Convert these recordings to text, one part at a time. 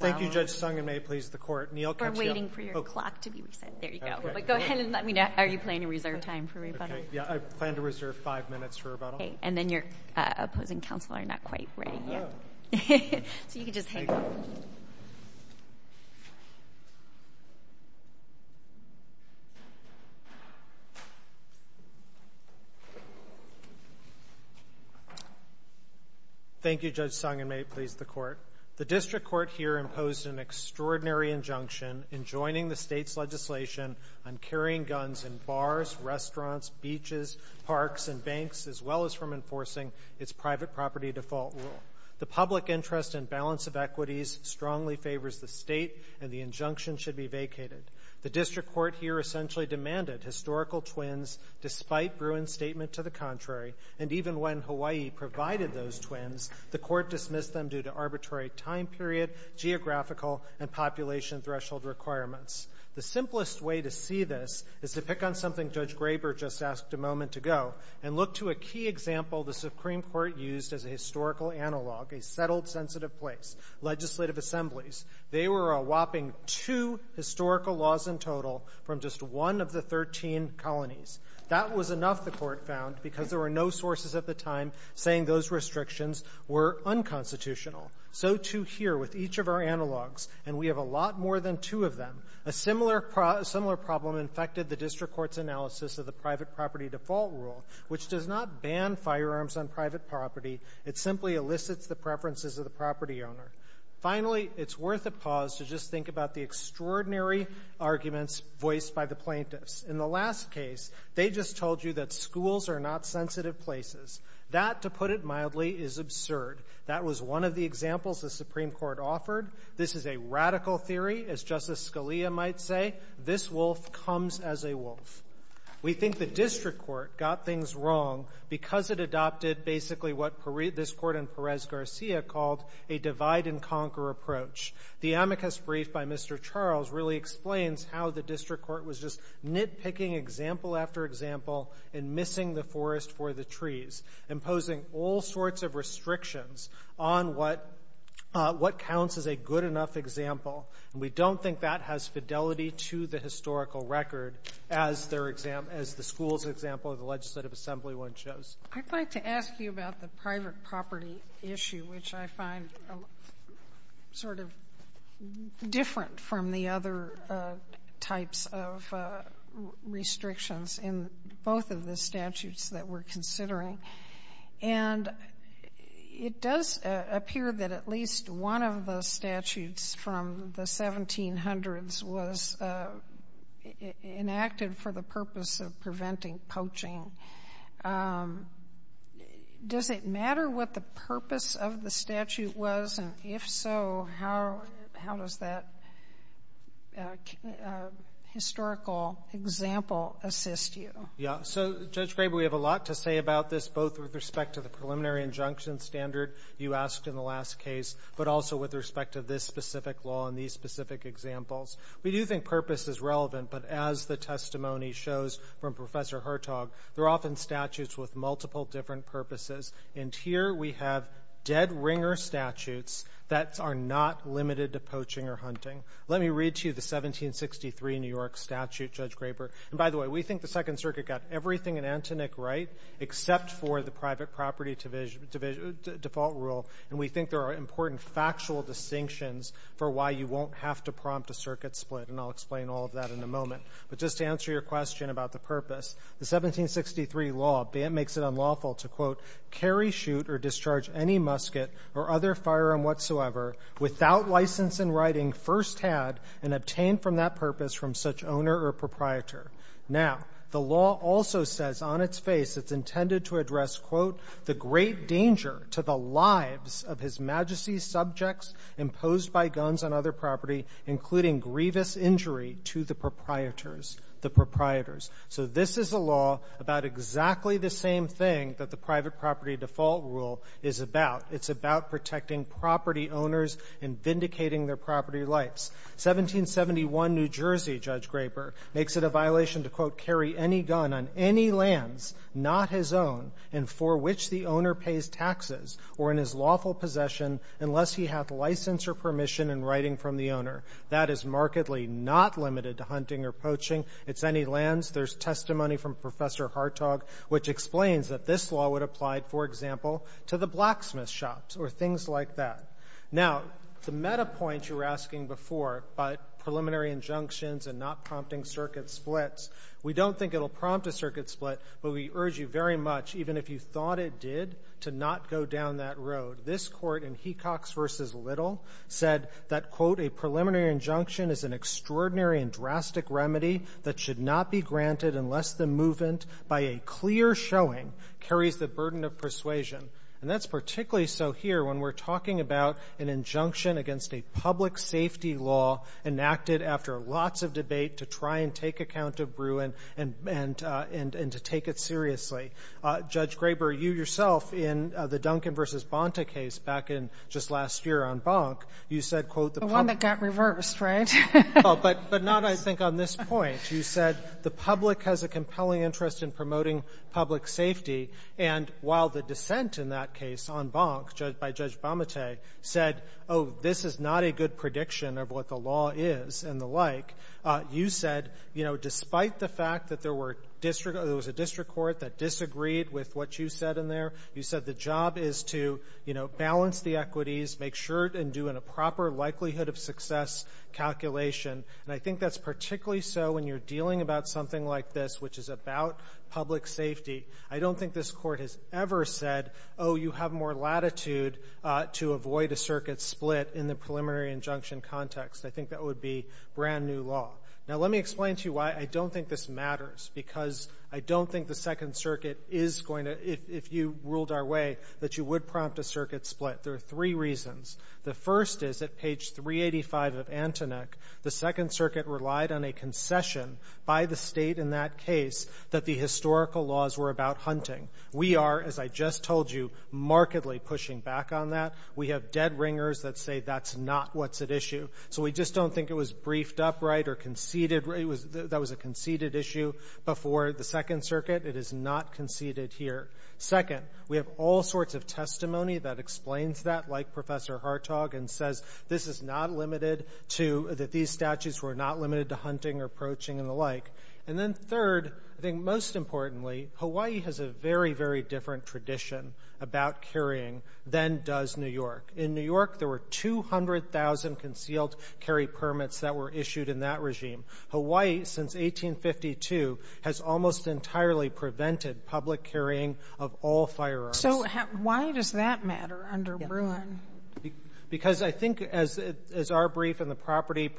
Thank you, Judge Sung, and may it please the Court, Neal Katsuyama. We're waiting for your clock to be reset. There you go. But go ahead and let me know. Are you planning to reserve time for rebuttal? Yeah, I plan to reserve five minutes for rebuttal. Okay. And then your opposing counsel are not quite ready yet. Oh. So you can just hang on. Thank you, Judge Sung, and may it please the Court. The District Court here imposed an extraordinary injunction in joining the State's legislation on carrying guns in bars, restaurants, beaches, parks, and banks, as well as from enforcing its private property default rule. The public interest and balance of equities strongly favors the State, and the injunction should be vacated. The District Court here essentially demanded historical twins despite Bruin's statement to the contrary, and even when Hawaii provided those twins, the Court dismissed them due to arbitrary time period, geographical, and population threshold requirements. The simplest way to see this is to pick on something Judge Graber just asked a moment ago and look to a key example the Supreme Court used as a historical analog, a settled, sensitive place, legislative assemblies. They were a whopping two historical laws in total from just one of the 13 colonies. That was enough, the Court found, because there were no sources at the time saying those restrictions were unconstitutional. So, too, here with each of our analogs, and we have a lot more than two of them, a similar problem infected the District Court's analysis of the private property default rule, which does not ban firearms on private property. It simply elicits the preferences of the property owner. Finally, it's worth a pause to just think about the extraordinary arguments voiced by the plaintiffs. In the last case, they just told you that schools are not sensitive places. That, to put it mildly, is absurd. That was one of the examples the Supreme Court offered. This is a radical theory. As Justice Scalia might say, this wolf comes as a wolf. We think the District Court got things wrong because it adopted basically what this Court in Perez-Garcia called a divide-and-conquer approach. The amicus brief by Mr. Charles really explains how the District Court was just nitpicking example after example and missing the forest for the trees, imposing all sorts of restrictions on what counts as a good enough example. We don't think that has fidelity to the historical record, as the schools example or the legislative assembly one shows. I'd like to ask you about the private property issue, which I find sort of different from the other types of restrictions in both of the statutes that we're considering. And it does appear that at least one of the statutes from the 1700s was enacted for the purpose of preventing poaching. Does it matter what the purpose of the statute was? If it wasn't, if so, how does that historical example assist you? Judge Graber, we have a lot to say about this, both with respect to the preliminary injunction standard you asked in the last case, but also with respect to this specific law and these specific examples. We do think purpose is relevant, but as the testimony shows from Professor Hertog, there are often statutes with multiple different purposes. And here we have dead ringer statutes that are not limited to poaching or hunting. Let me read to you the 1763 New York statute, Judge Graber. And by the way, we think the Second Circuit got everything in Antonique right, except for the private property default rule. And we think there are important factual distinctions for why you won't have to prompt a circuit split, and I'll explain all of that in a moment. But just to answer your question about the purpose, the 1763 law makes it unlawful to, quote, carry, shoot, or discharge any musket or other firearm whatsoever without license in writing first-hand and obtained from that purpose from such owner or proprietor. Now, the law also says on its face it's intended to address, quote, the great danger to the lives of His Majesty's subjects imposed by guns on other property, including grievous injury to the proprietors. So this is a law about exactly the same thing that the private property default rule is about. It's about protecting property owners and vindicating their property rights. 1771 New Jersey, Judge Graber, makes it a violation to, quote, carry any gun on any lands, not his own, and for which the owner pays taxes or in his lawful possession unless he hath license or permission in writing from the owner. That is markedly not limited to hunting or poaching. It's any lands. There's testimony from Professor Hartog which explains that this law would apply, for example, to the blacksmith shops or things like that. Now, the meta point you were asking before about preliminary injunctions and not prompting circuit splits, we don't think it will prompt a circuit split, but we urge you very much, even if you thought it did, This court in Hecox v. Little said that, quote, preliminary injunction is an extraordinary and drastic remedy that should not be granted unless the movement, by a clear showing, carries the burden of persuasion. And that's particularly so here when we're talking about an injunction against a public safety law enacted after lots of debate to try and take account of Bruin and to take it seriously. Judge Graber, you yourself, in the Duncan v. Bonta case back in just last year on Bonk, you said, quote, The one that got reversed, right? But not, I think, on this point. You said the public has a compelling interest in promoting public safety, and while the dissent in that case on Bonk by Judge Bamate said, oh, this is not a good prediction of what the law is and the like, you said, despite the fact that there was a district court that disagreed with what you said in there, you said the job is to balance the equities, make sure and do a proper likelihood of success calculation. And I think that's particularly so when you're dealing about something like this, which is about public safety. I don't think this court has ever said, oh, you have more latitude to avoid a circuit split in the preliminary injunction context. I think that would be brand-new law. Now, let me explain to you why I don't think this matters, because I don't think the Second Circuit is going to, if you ruled our way, that you would prompt a circuit split. There are three reasons. The first is that page 385 of Antonek, the Second Circuit relied on a concession by the state in that case that the historical laws were about hunting. We are, as I just told you, markedly pushing back on that. We have dead ringers that say that's not what's at issue. So we just don't think it was briefed upright or conceded, that was a conceded issue before the Second Circuit. It is not conceded here. Second, we have all sorts of testimony that explains that, like Professor Hartog, and says this is not limited to, that these statutes were not limited to hunting or poaching and the like. And then third, I think most importantly, Hawaii has a very, very different tradition about carrying than does New York. In New York, there were 200,000 concealed carry permits that were issued in that regime. Hawaii, since 1852, has almost entirely prevented public carrying of all firearms. So why does that matter under Bruin? Because I think, as our brief and the property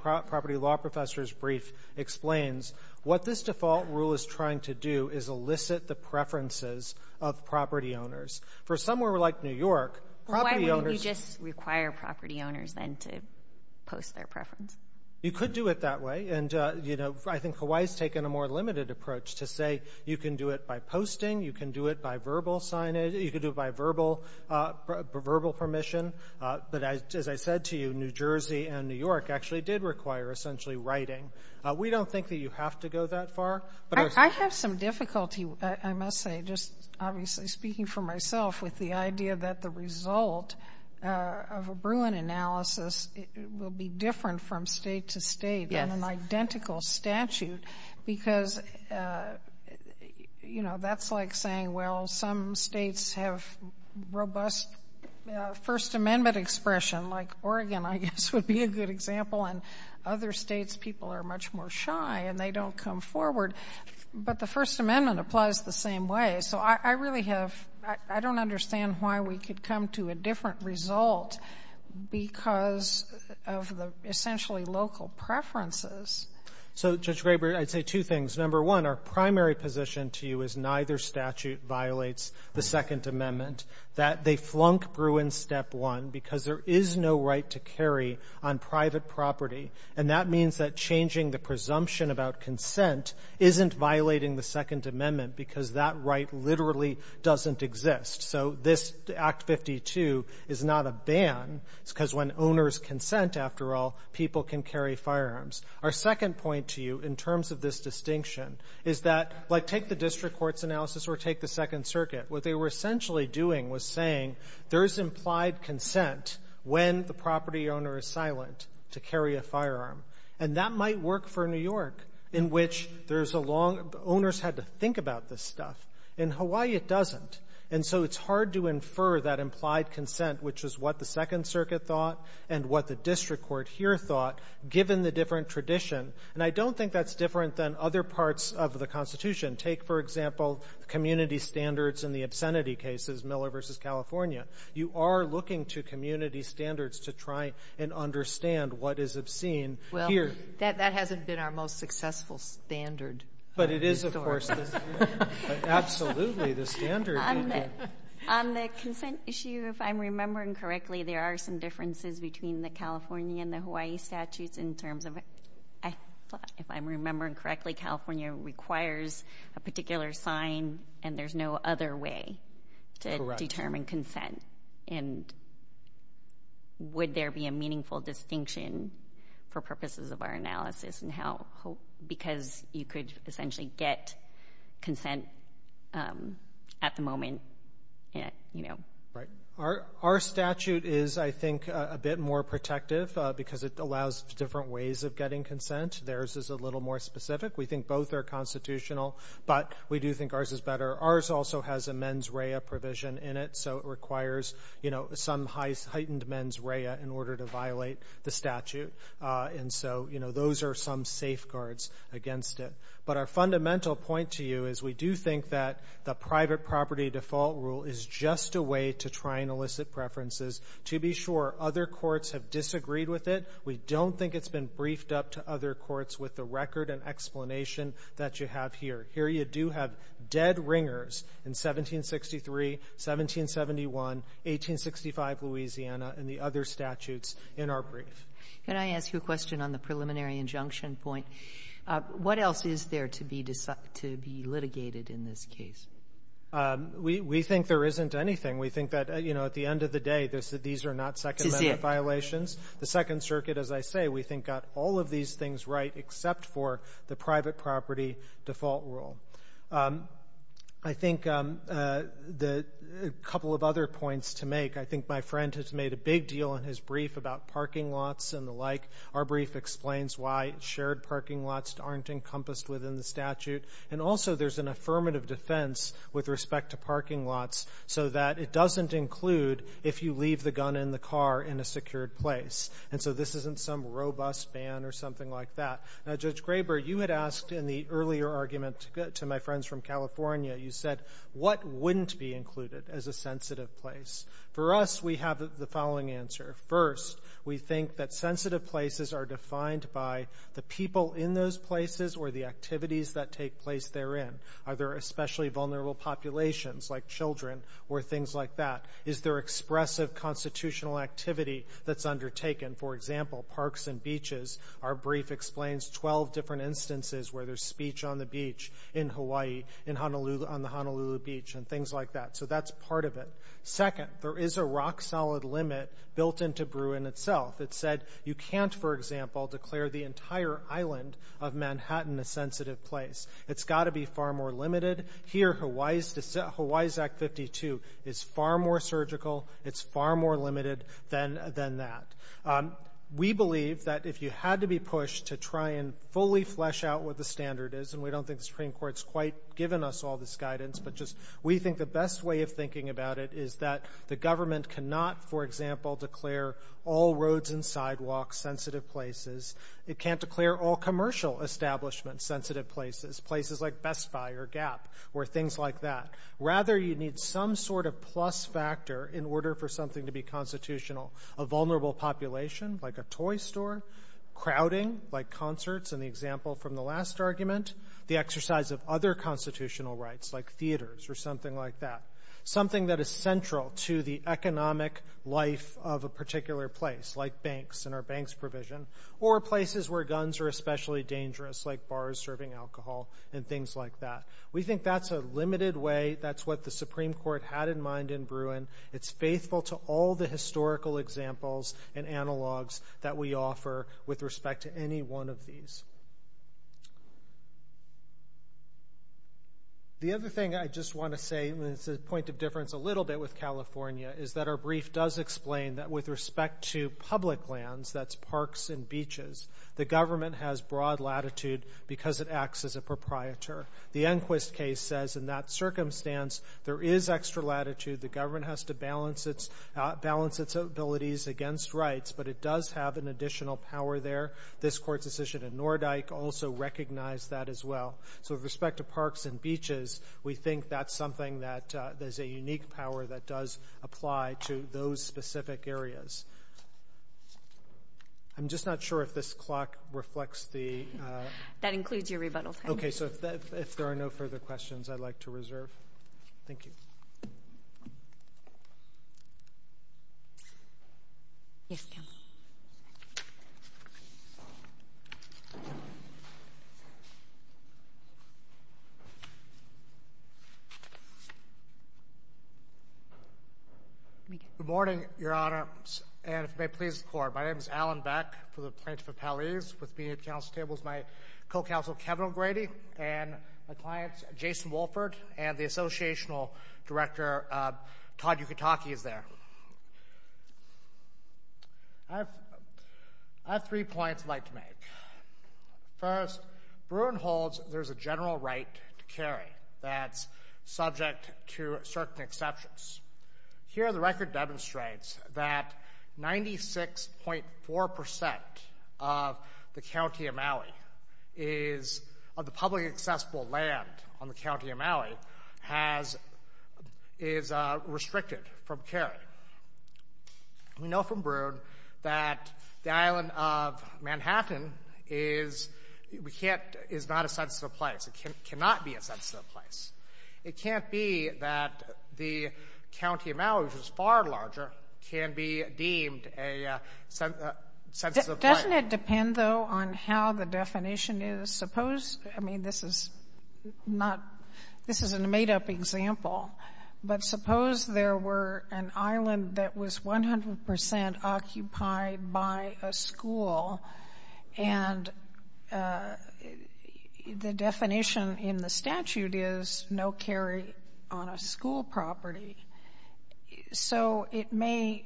law professor's brief explains, what this default rule is trying to do is elicit the preferences of property owners. For somewhere like New York, property owners— Why wouldn't you just require property owners then to post their preference? You could do it that way. And, you know, I think Hawaii has taken a more limited approach to say you can do it by posting, you can do it by verbal signage, you can do it by verbal permission. But as I said to you, New Jersey and New York actually did require essentially writing. We don't think that you have to go that far. I have some difficulty, I must say, just obviously speaking for myself, with the idea that the result of a Bruin analysis will be different from state to state and an identical statute because, you know, that's like saying, well, some states have robust First Amendment expression, like Oregon, I guess, would be a good example, and other states' people are much more shy and they don't come forward. But the First Amendment applies the same way. So I really have—I don't understand why we could come to a different result because of the essentially local preferences. So, Judge Graber, I'd say two things. Number one, our primary position to you is neither statute violates the Second Amendment, that they flunk Bruin Step 1 because there is no right to carry on private property, and that means that changing the presumption about consent isn't violating the Second Amendment because that right literally doesn't exist. So this, Act 52, is not a ban. It's because when owners consent, after all, people can carry firearms. Our second point to you in terms of this distinction is that, like take the district court's analysis or take the Second Circuit. What they were essentially doing was saying there is implied consent when the property owner is silent to carry a firearm, and that might work for New York in which there's a long—owners had to think about this stuff. In Hawaii, it doesn't. And so it's hard to infer that implied consent, which is what the Second Circuit thought and what the district court here thought, given the different tradition. And I don't think that's different than other parts of the Constitution. Take, for example, community standards in the obscenity cases, Miller v. California. You are looking to community standards to try and understand what is obscene here. Well, that hasn't been our most successful standard. But it is, of course, absolutely the standard. On the consent issue, if I'm remembering correctly, there are some differences between the California and the Hawaii statutes in terms of— if I'm remembering correctly, California requires a particular sign and there's no other way to determine consent. And would there be a meaningful distinction for purposes of our analysis because you could essentially get consent at the moment? Right. Our statute is, I think, a bit more protective because it allows different ways of getting consent. Theirs is a little more specific. We think both are constitutional, but we do think ours is better. Ours also has a mens rea provision in it, so it requires some heightened mens rea in order to violate the statute. And so those are some safeguards against it. But our fundamental point to you is we do think that the private property default rule is just a way to try and elicit preferences. To be sure, other courts have disagreed with it. We don't think it's been briefed up to other courts with the record and explanation that you have here. Here you do have dead ringers in 1763, 1771, 1865 Louisiana, and the other statutes in our brief. Can I ask you a question on the preliminary injunction point? What else is there to be litigated in this case? We think there isn't anything. We think that, you know, at the end of the day, these are not Second Amendment violations. The Second Circuit, as I say, we think got all of these things right except for the private property default rule. I think a couple of other points to make. I think my friend has made a big deal in his brief about parking lots and the like. Our brief explains why shared parking lots aren't encompassed within the statute. And also there's an affirmative defense with respect to parking lots so that it doesn't include if you leave the gun in the car in a secured place. And so this isn't some robust ban or something like that. Now, Judge Graber, you had asked in the earlier argument to my friends from California, you said what wouldn't be included as a sensitive place. For us, we have the following answer. First, we think that sensitive places are defined by the people in those places or the activities that take place therein. Are there especially vulnerable populations like children or things like that? Is there expressive constitutional activity that's undertaken? For example, parks and beaches. Our brief explains 12 different instances where there's speech on the beach in Hawaii, on the Honolulu Beach, and things like that. So that's part of it. Second, there is a rock-solid limit built into Bruin itself. It said you can't, for example, declare the entire island of Manhattan a sensitive place. It's got to be far more limited. Here, Hawaii's Act 52 is far more surgical. It's far more limited than that. We believe that if you had to be pushed to try and fully flesh out what the standard is, and we don't think the Supreme Court's quite given us all this guidance, but just we think the best way of thinking about it is that the government cannot, for example, declare all roads and sidewalks sensitive places. It can't declare all commercial establishments sensitive places, places like Best Buy or Gap or things like that. Rather, you need some sort of plus factor in order for something to be constitutional. A vulnerable population, like a toy store. Crowding, like concerts in the example from the last argument. The exercise of other constitutional rights, like theaters or something like that. Something that is central to the economic life of a particular place, like banks and our banks provision. Or places where guns are especially dangerous, like bars serving alcohol and things like that. We think that's a limited way. That's what the Supreme Court had in mind in Bruin. It's faithful to all the historical examples and analogs that we offer with respect to any one of these. The other thing I just want to say, and it's a point of difference a little bit with California, is that our brief does explain that with respect to public lands, that's parks and beaches, the government has broad latitude because it acts as a proprietor. The Enquist case says, in that circumstance, there is extra latitude. The government has to balance its abilities against rights, but it does have an additional power there. This court's decision in Nordyke also recognized that as well. With respect to parks and beaches, we think that's something that there's a unique power that does apply to those specific areas. I'm just not sure if this clock reflects the... That includes your rebuttal time. If there are no further questions, I'd like to reserve. Thank you. Yes, ma'am. Good morning, Your Honor, and may it please the Court. My name is Alan Beck for the Plaintiff Appellees. With me at the council table is my co-counsel, Kevin O'Grady, and my client, Jason Wolford, and the associational director, Todd Uketake, is there. I have three points I'd like to make. First, Bruin holds there's a general right to carry that's subject to certain exceptions. Here the record demonstrates that 96.4% of the county of Maui is... Of the publicly accessible land on the county of Maui is restricted from carrying. We know from Bruin that the island of Manhattan is not a sensitive place. It cannot be a sensitive place. It can't be that the county of Maui, which is far larger, can be deemed a sensitive place. Doesn't it depend, though, on how the definition is? I mean, this is a made-up example, but suppose there were an island that was 100% occupied by a school, and the definition in the statute is no carry on a school property. So it may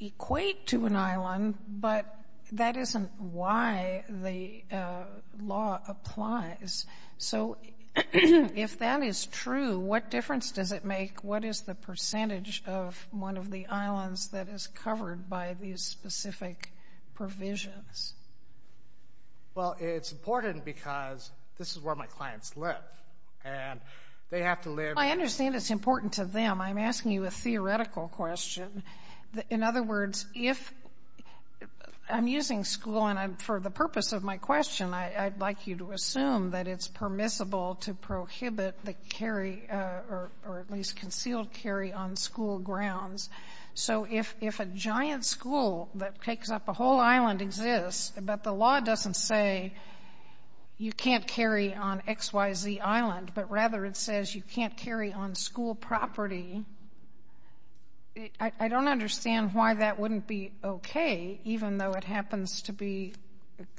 equate to an island, but that isn't why the law applies. So if that is true, what difference does it make? What is the percentage of one of the islands that is covered by these specific provisions? Well, it's important because this is where my clients live, and they have to live... I understand it's important to them. I'm asking you a theoretical question. In other words, if I'm using school, and for the purpose of my question, I'd like you to assume that it's permissible to prohibit the carry or at least concealed carry on school grounds. So if a giant school that takes up a whole island exists, but the law doesn't say you can't carry on X, Y, Z island, but rather it says you can't carry on school property, I don't understand why that wouldn't be okay, even though it happens to be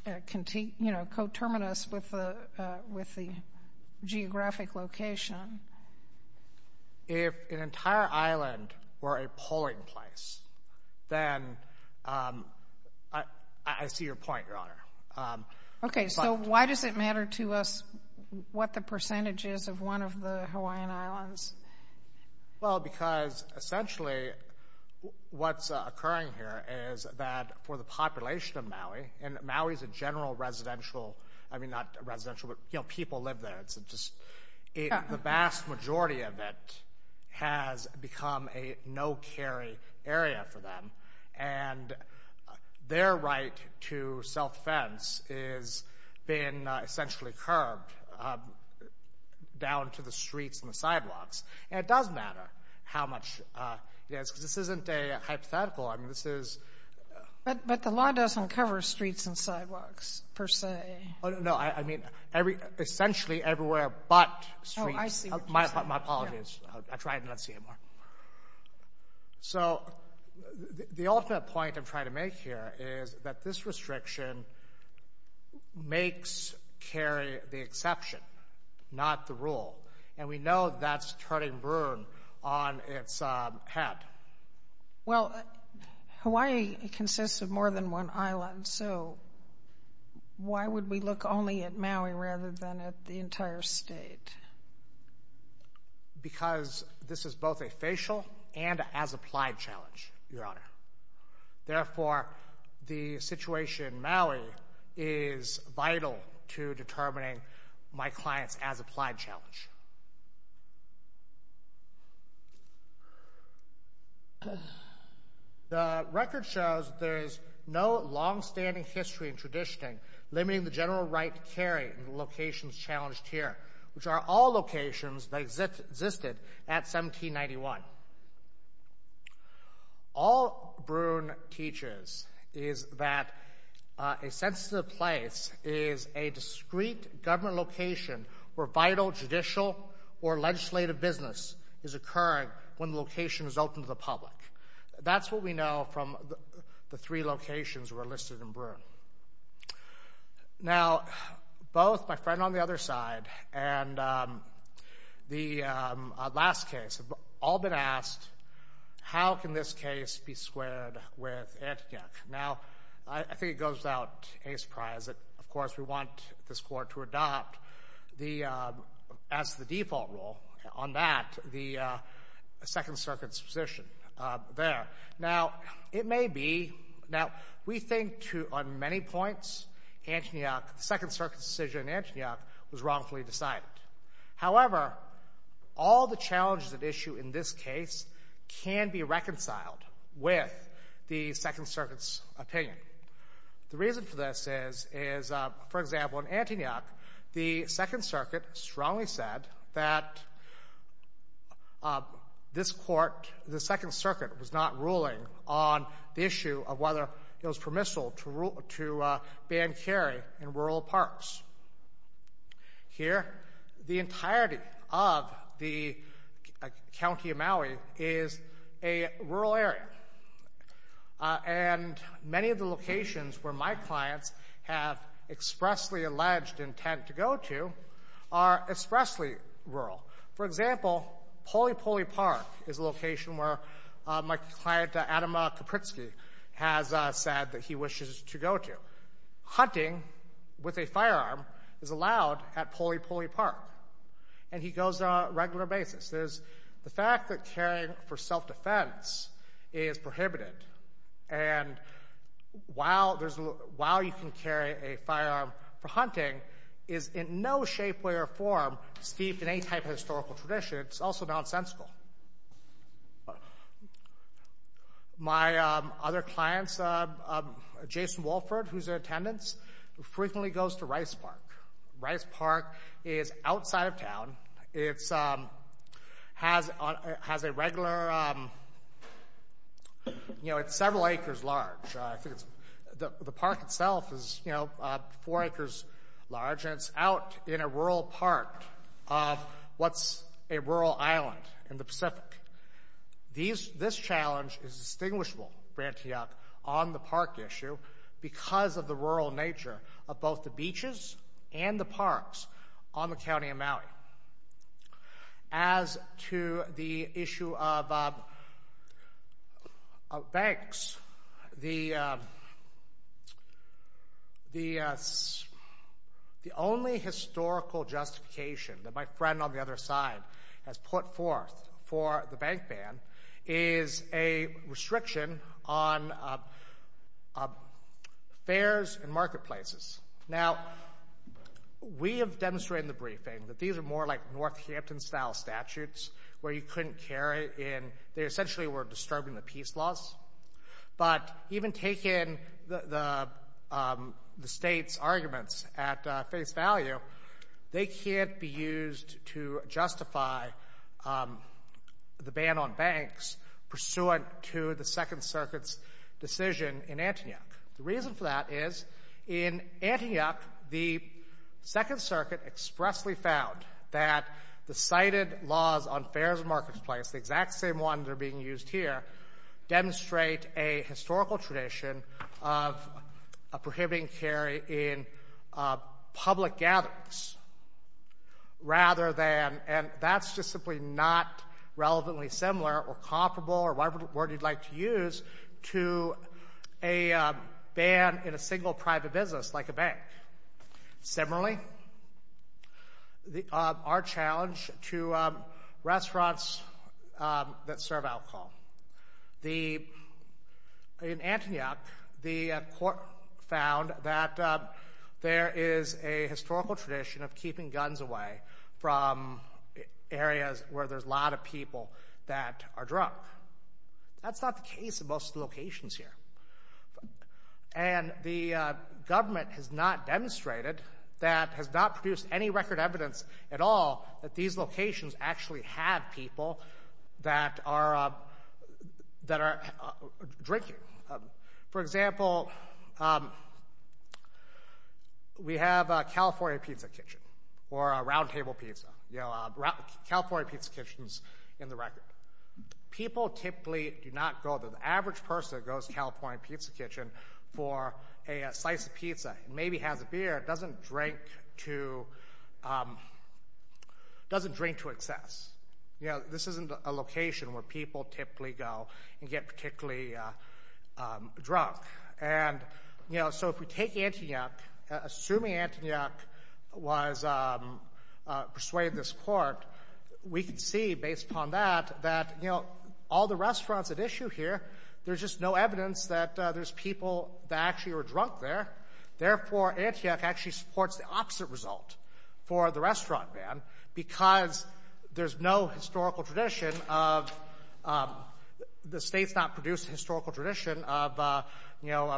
coterminous with the geographic location. If an entire island were a polling place, then I see your point, Your Honor. Okay, so why does it matter to us what the percentage is of one of the Hawaiian Islands? Well, because essentially what's occurring here is that for the population of Maui, and Maui is a general residential, I mean not residential, but people live there. The vast majority of it has become a no-carry area for them, and their right to self-fence is being essentially curbed down to the streets and the sidewalks. And it does matter how much, because this isn't a hypothetical, I mean this is... But the law doesn't cover streets and sidewalks per se. No, I mean essentially everywhere but streets. Oh, I see what you're saying. My apologies. I try not to say anymore. So the ultimate point I'm trying to make here is that this restriction makes carry the exception, not the rule. And we know that's turning brood on its head. Well, Hawaii consists of more than one island, so why would we look only at Maui rather than at the entire state? Because this is both a facial and as-applied challenge, Your Honor. Therefore, the situation in Maui is vital to determining my client's as-applied challenge. The record shows that there is no long-standing history in traditioning limiting the general right to carry in the locations challenged here, which are all locations that existed at 1791. All Bruin teaches is that a sensitive place is a discreet government location where vital judicial or legislative business is occurring when the location is open to the public. That's what we know from the three locations that were listed in Bruin. Now, both my friend on the other side and the last case have all been asked, how can this case be squared with Antioch? Now, I think it goes without any surprise that, of course, we want this Court to adopt as the default rule on that the Second Circuit's position there. Now, it may be, we think on many points, the Second Circuit's decision in Antioch was wrongfully decided. However, all the challenges at issue in this case can be reconciled with the Second Circuit's opinion. The reason for this is, for example, in Antioch, the Second Circuit strongly said that this Court, the Second Circuit, was not ruling on the issue of whether it was permissible to ban carry in rural parks. Here, the entirety of the County of Maui is a rural area, and many of the locations where my clients have expressly alleged intent to go to are expressly rural. For example, Poli Poli Park is a location where my client, Adam Kapritsky, has said that he wishes to go to. Hunting with a firearm is allowed at Poli Poli Park, and he goes there on a regular basis. The fact that carrying for self-defense is prohibited, and while you can carry a firearm for hunting, is in no shape, way, or form steeped in any type of historical tradition. It's also nonsensical. My other clients, Jason Wolford, who's in attendance, frequently goes to Rice Park. Rice Park is outside of town. It has a regular, you know, it's several acres large. The park itself is, you know, four acres large, and it's out in a rural part of what's a rural island in the Pacific. This challenge is distinguishable for Antioch on the park issue because of the rural nature of both the beaches and the parks on the county of Maui. As to the issue of banks, the only historical justification that my friend on the other side has put forth for the bank ban is a restriction on fairs and marketplaces. Now, we have demonstrated in the briefing that these are more like Northampton-style statutes where you couldn't carry it in. They essentially were disturbing the peace laws, but even taking the state's arguments at face value, they can't be used to justify the ban on banks pursuant to the Second Circuit's decision in Antioch. The reason for that is in Antioch, the Second Circuit expressly found that the cited laws on fairs and marketplaces, the exact same ones that are being used here, demonstrate a historical tradition of prohibiting carry in public gatherings. That's just simply not relevantly similar or comparable, or whatever word you'd like to use, to a ban in a single private business like a bank. Similarly, our challenge to restaurants that serve alcohol. In Antioch, the court found that there is a historical tradition of keeping guns away from areas where there's a lot of people that are drunk. That's not the case in most of the locations here. The government has not demonstrated that, has not produced any record evidence at all that these locations actually have people that are drinking. For example, we have a California pizza kitchen, or a round table pizza, California pizza kitchens in the record. People typically do not go, the average person that goes to a California pizza kitchen for a slice of pizza, maybe has a beer, doesn't drink to excess. This isn't a location where people typically go and get particularly drunk. If we take Antioch, assuming Antioch persuaded this court, we can see, based upon that, that all the restaurants at issue here, there's just no evidence that there's people that actually were drunk there. Therefore, Antioch actually supports the opposite result for the restaurant ban because there's no historical tradition of, the state's not produced a historical tradition of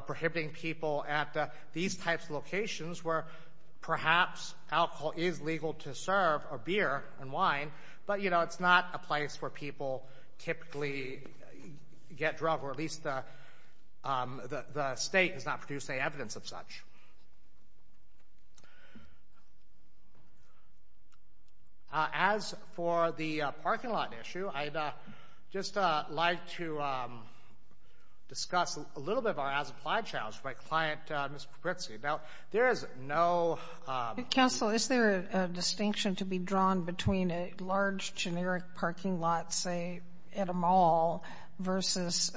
prohibiting people at these types of locations where perhaps alcohol is legal to serve, or beer and wine, but it's not a place where people typically get drunk, or at least the state has not produced any evidence of such. As for the parking lot issue, I'd just like to discuss a little bit of our as-applied challenge with my client, Mr. Papritsky. Now, there is no— Counsel, is there a distinction to be drawn between a large, generic parking lot, say, at a mall, versus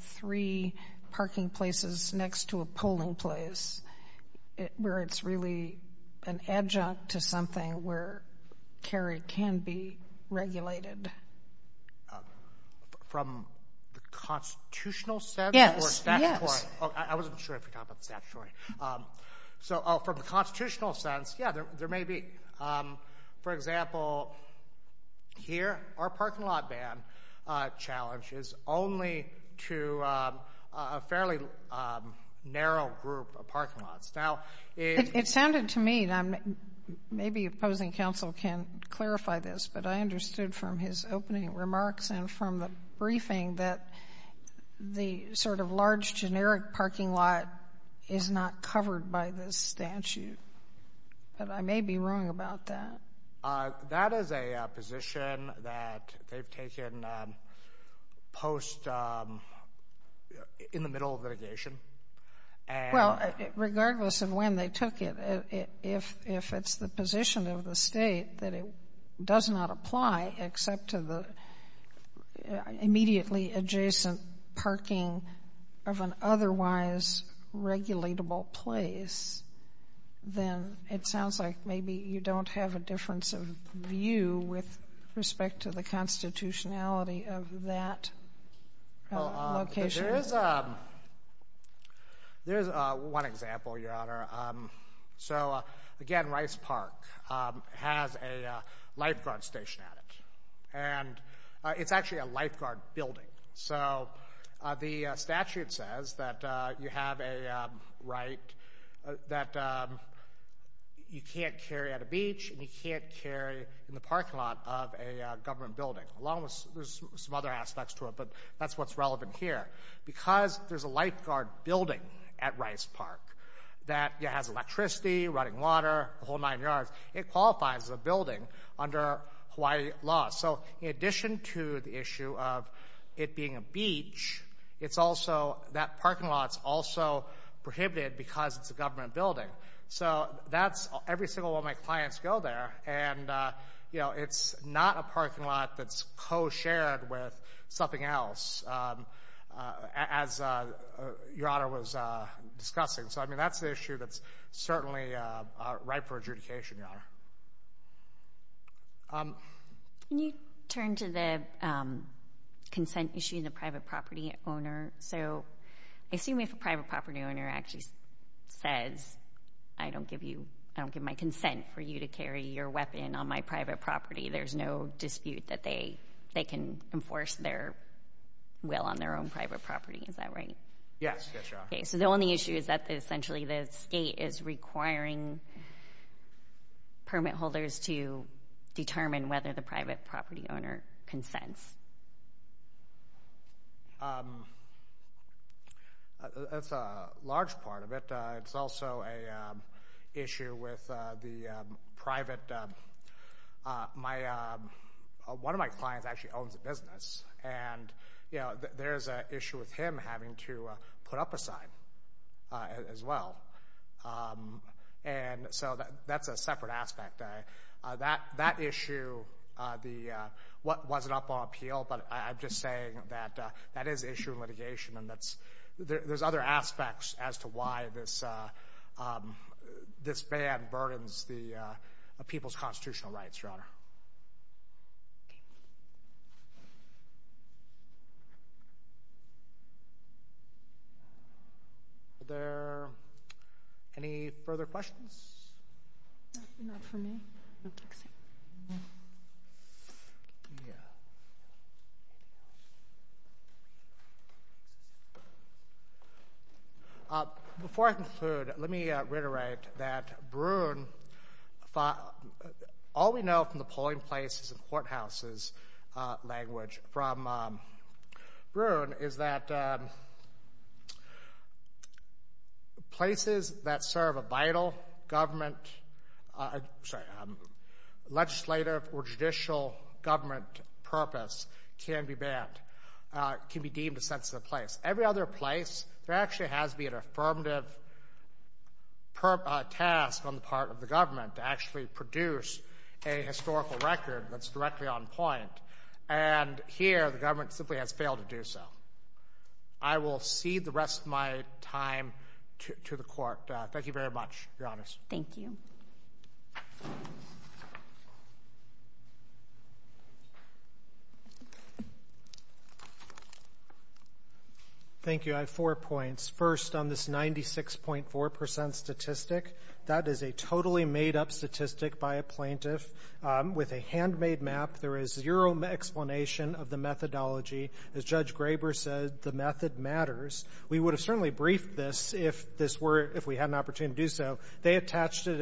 three parking places next to a polling place where it's really an adjunct to something where carry can be regulated? From the constitutional sense or statutory? Yes, yes. I wasn't sure if we talked about the statutory. From the constitutional sense, yeah, there may be. For example, here, our parking lot ban challenge is only to a fairly narrow group of parking lots. It sounded to me, and maybe opposing counsel can clarify this, but I understood from his opening remarks and from the briefing that the sort of large, generic parking lot is not covered by this statute. I may be wrong about that. That is a position that they've taken post—in the middle of litigation. Well, regardless of when they took it, if it's the position of the state that it does not apply except to the immediately adjacent parking of an otherwise regulatable place, then it sounds like maybe you don't have a difference of view with respect to the constitutionality of that location. Again, Rice Park has a lifeguard station at it. It's actually a lifeguard building. The statute says that you have a right that you can't carry at a beach and you can't carry in the parking lot of a government building. There's some other aspects to it, but that's what's relevant here. Because there's a lifeguard building at Rice Park that has electricity, running water, a whole nine yards, it qualifies as a building under Hawaii law. So in addition to the issue of it being a beach, that parking lot's also prohibited because it's a government building. So every single one of my clients go there, and it's not a parking lot that's co-shared with something else, as Your Honor was discussing. So, I mean, that's the issue that's certainly a right for adjudication, Your Honor. Can you turn to the consent issue in the private property owner? So assume if a private property owner actually says, I don't give my consent for you to carry your weapon on my private property, there's no dispute that they can enforce their will on their own private property. Is that right? Yes. So the only issue is that essentially the state is requiring permit holders to determine whether the private property owner consents. That's a large part of it. It's also an issue with the private—one of my clients actually owns a business, and there's an issue with him having to put up a sign as well. So that's a separate aspect. That issue wasn't up on appeal, but I'm just saying that that is an issue in litigation, and there's other aspects as to why this ban burdens people's constitutional rights, Your Honor. Are there any further questions? Not from me. Before I conclude, let me reiterate that Broon— all we know from the polling places and courthouses language from Broon is that places that serve a vital legislative or judicial government purpose can be banned, can be deemed a sensitive place. Every other place, there actually has to be an affirmative task on the part of the government to actually produce a historical record that's directly on point, and here, the government simply has failed to do so. I will cede the rest of my time to the Court. Thank you very much, Your Honors. Thank you. Thank you. I have four points. First, on this 96.4% statistic, that is a totally made-up statistic by a plaintiff. With a handmade map, there is zero explanation of the methodology. As Judge Graber said, the method matters. We would have certainly briefed this if we had an opportunity to do so. They attached it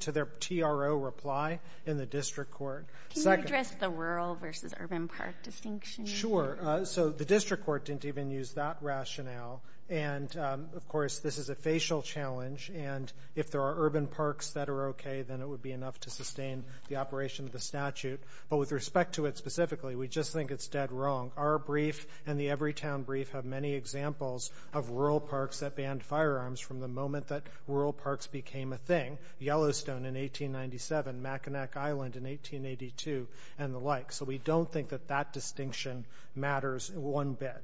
to their TRO reply in the district court. Can you address the rural versus urban park distinction? Sure. So the district court didn't even use that rationale, and, of course, this is a facial challenge, and if there are urban parks that are okay, then it would be enough to sustain the operation of the statute. But with respect to it specifically, we just think it's dead wrong. Our brief and the Everytown brief have many examples of rural parks that banned firearms from the moment that rural parks became a thing, Yellowstone in 1897, Mackinac Island in 1882, and the like. So we don't think that that distinction matters one bit.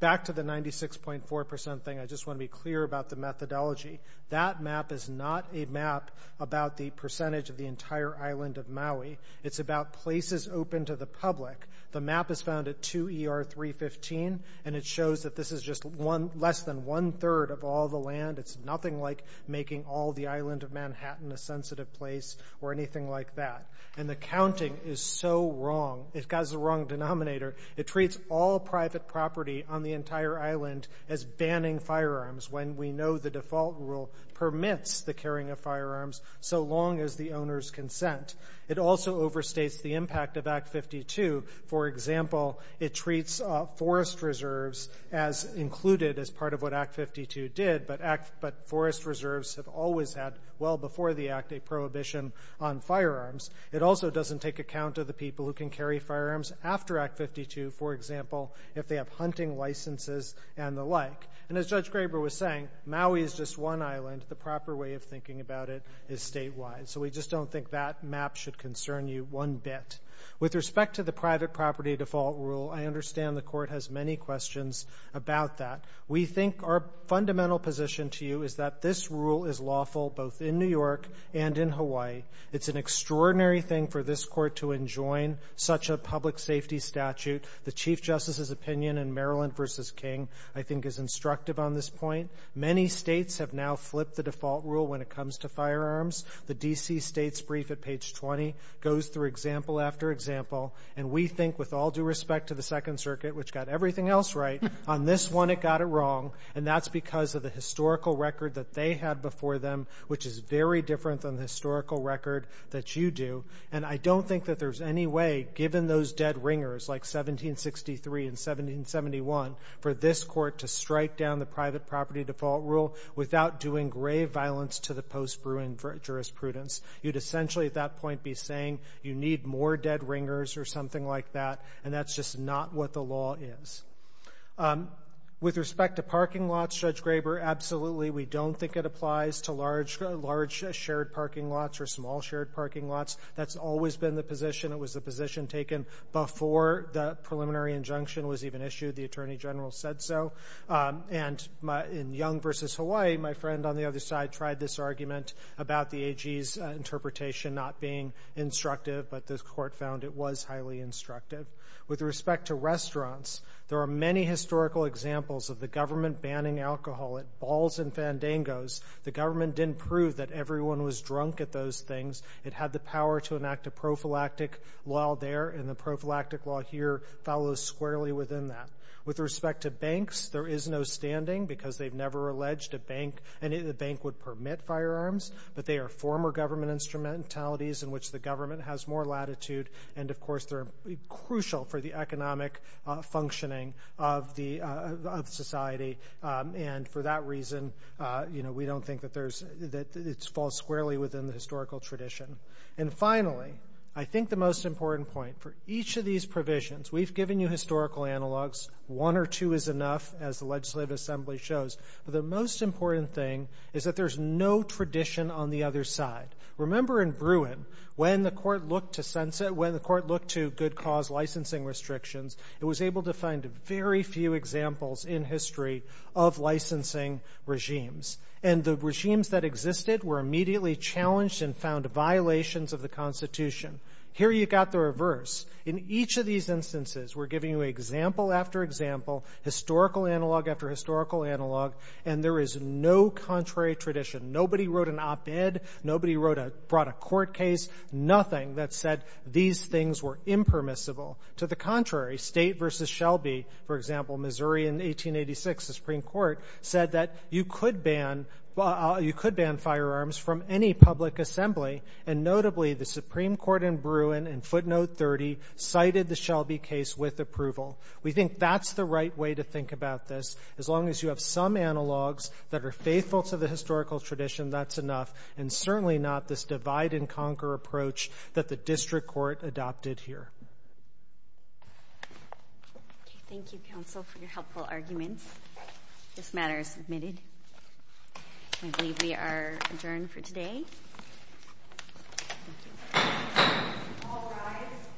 Back to the 96.4% thing, I just want to be clear about the methodology. That map is not a map about the percentage of the entire island of Maui. It's about places open to the public. The map is found at 2 ER 315, and it shows that this is just less than one-third of all the land. It's nothing like making all the island of Manhattan a sensitive place or anything like that. And the counting is so wrong. It has the wrong denominator. It treats all private property on the entire island as banning firearms when we know the default rule permits the carrying of firearms so long as the owners consent. It also overstates the impact of Act 52. For example, it treats forest reserves as included as part of what Act 52 did, but forest reserves have always had, well before the Act, a prohibition on firearms. It also doesn't take account of the people who can carry firearms after Act 52, for example, if they have hunting licenses and the like. And as Judge Graber was saying, Maui is just one island. The proper way of thinking about it is statewide. So we just don't think that map should concern you one bit. With respect to the private property default rule, I understand the court has many questions about that. We think our fundamental position to you is that this rule is lawful both in New York and in Hawaii. It's an extraordinary thing for this court to enjoin such a public safety statute. The Chief Justice's opinion in Maryland v. King I think is instructive on this point. Many states have now flipped the default rule when it comes to firearms. The D.C. State's brief at page 20 goes through example after example, and we think with all due respect to the Second Circuit, which got everything else right, on this one it got it wrong, and that's because of the historical record that they had before them, which is very different than the historical record that you do. And I don't think that there's any way, given those dead ringers like 1763 and 1771, for this court to strike down the private property default rule without doing grave violence to the post-Bruin jurisprudence. You'd essentially at that point be saying you need more dead ringers or something like that, and that's just not what the law is. With respect to parking lots, Judge Graber, absolutely we don't think it applies to large shared parking lots or small shared parking lots. That's always been the position. It was the position taken before the preliminary injunction was even issued. The Attorney General said so. And in Young v. Hawaii, my friend on the other side tried this argument about the AG's interpretation not being instructive, but the court found it was highly instructive. With respect to restaurants, there are many historical examples of the government banning alcohol at Balls and Fandangos. The government didn't prove that everyone was drunk at those things. It had the power to enact a prophylactic law there, and the prophylactic law here follows squarely within that. With respect to banks, there is no standing because they've never alleged a bank, and the bank would permit firearms, but they are former government instrumentalities in which the government has more latitude. And, of course, they're crucial for the economic functioning of society. And for that reason, we don't think that it falls squarely within the historical tradition. And finally, I think the most important point for each of these provisions, we've given you historical analogs. One or two is enough, as the Legislative Assembly shows. But the most important thing is that there's no tradition on the other side. Remember in Bruin, when the court looked to sunset, when the court looked to good cause licensing restrictions, it was able to find very few examples in history of licensing regimes. And the regimes that existed were immediately challenged and found violations of the Constitution. Here you've got the reverse. In each of these instances, we're giving you example after example, historical analog after historical analog, and there is no contrary tradition. Nobody wrote an op-ed. Nobody brought a court case. Nothing that said these things were impermissible. To the contrary, State v. Shelby, for example, Missouri in 1886, the Supreme Court, said that you could ban firearms from any public assembly, and notably the Supreme Court in Bruin in footnote 30 cited the Shelby case with approval. We think that's the right way to think about this, as long as you have some analogs that are faithful to the historical tradition, that's enough, and certainly not this divide-and-conquer approach that the district court adopted here. Thank you, counsel, for your helpful arguments. This matter is submitted. I believe we are adjourned for today.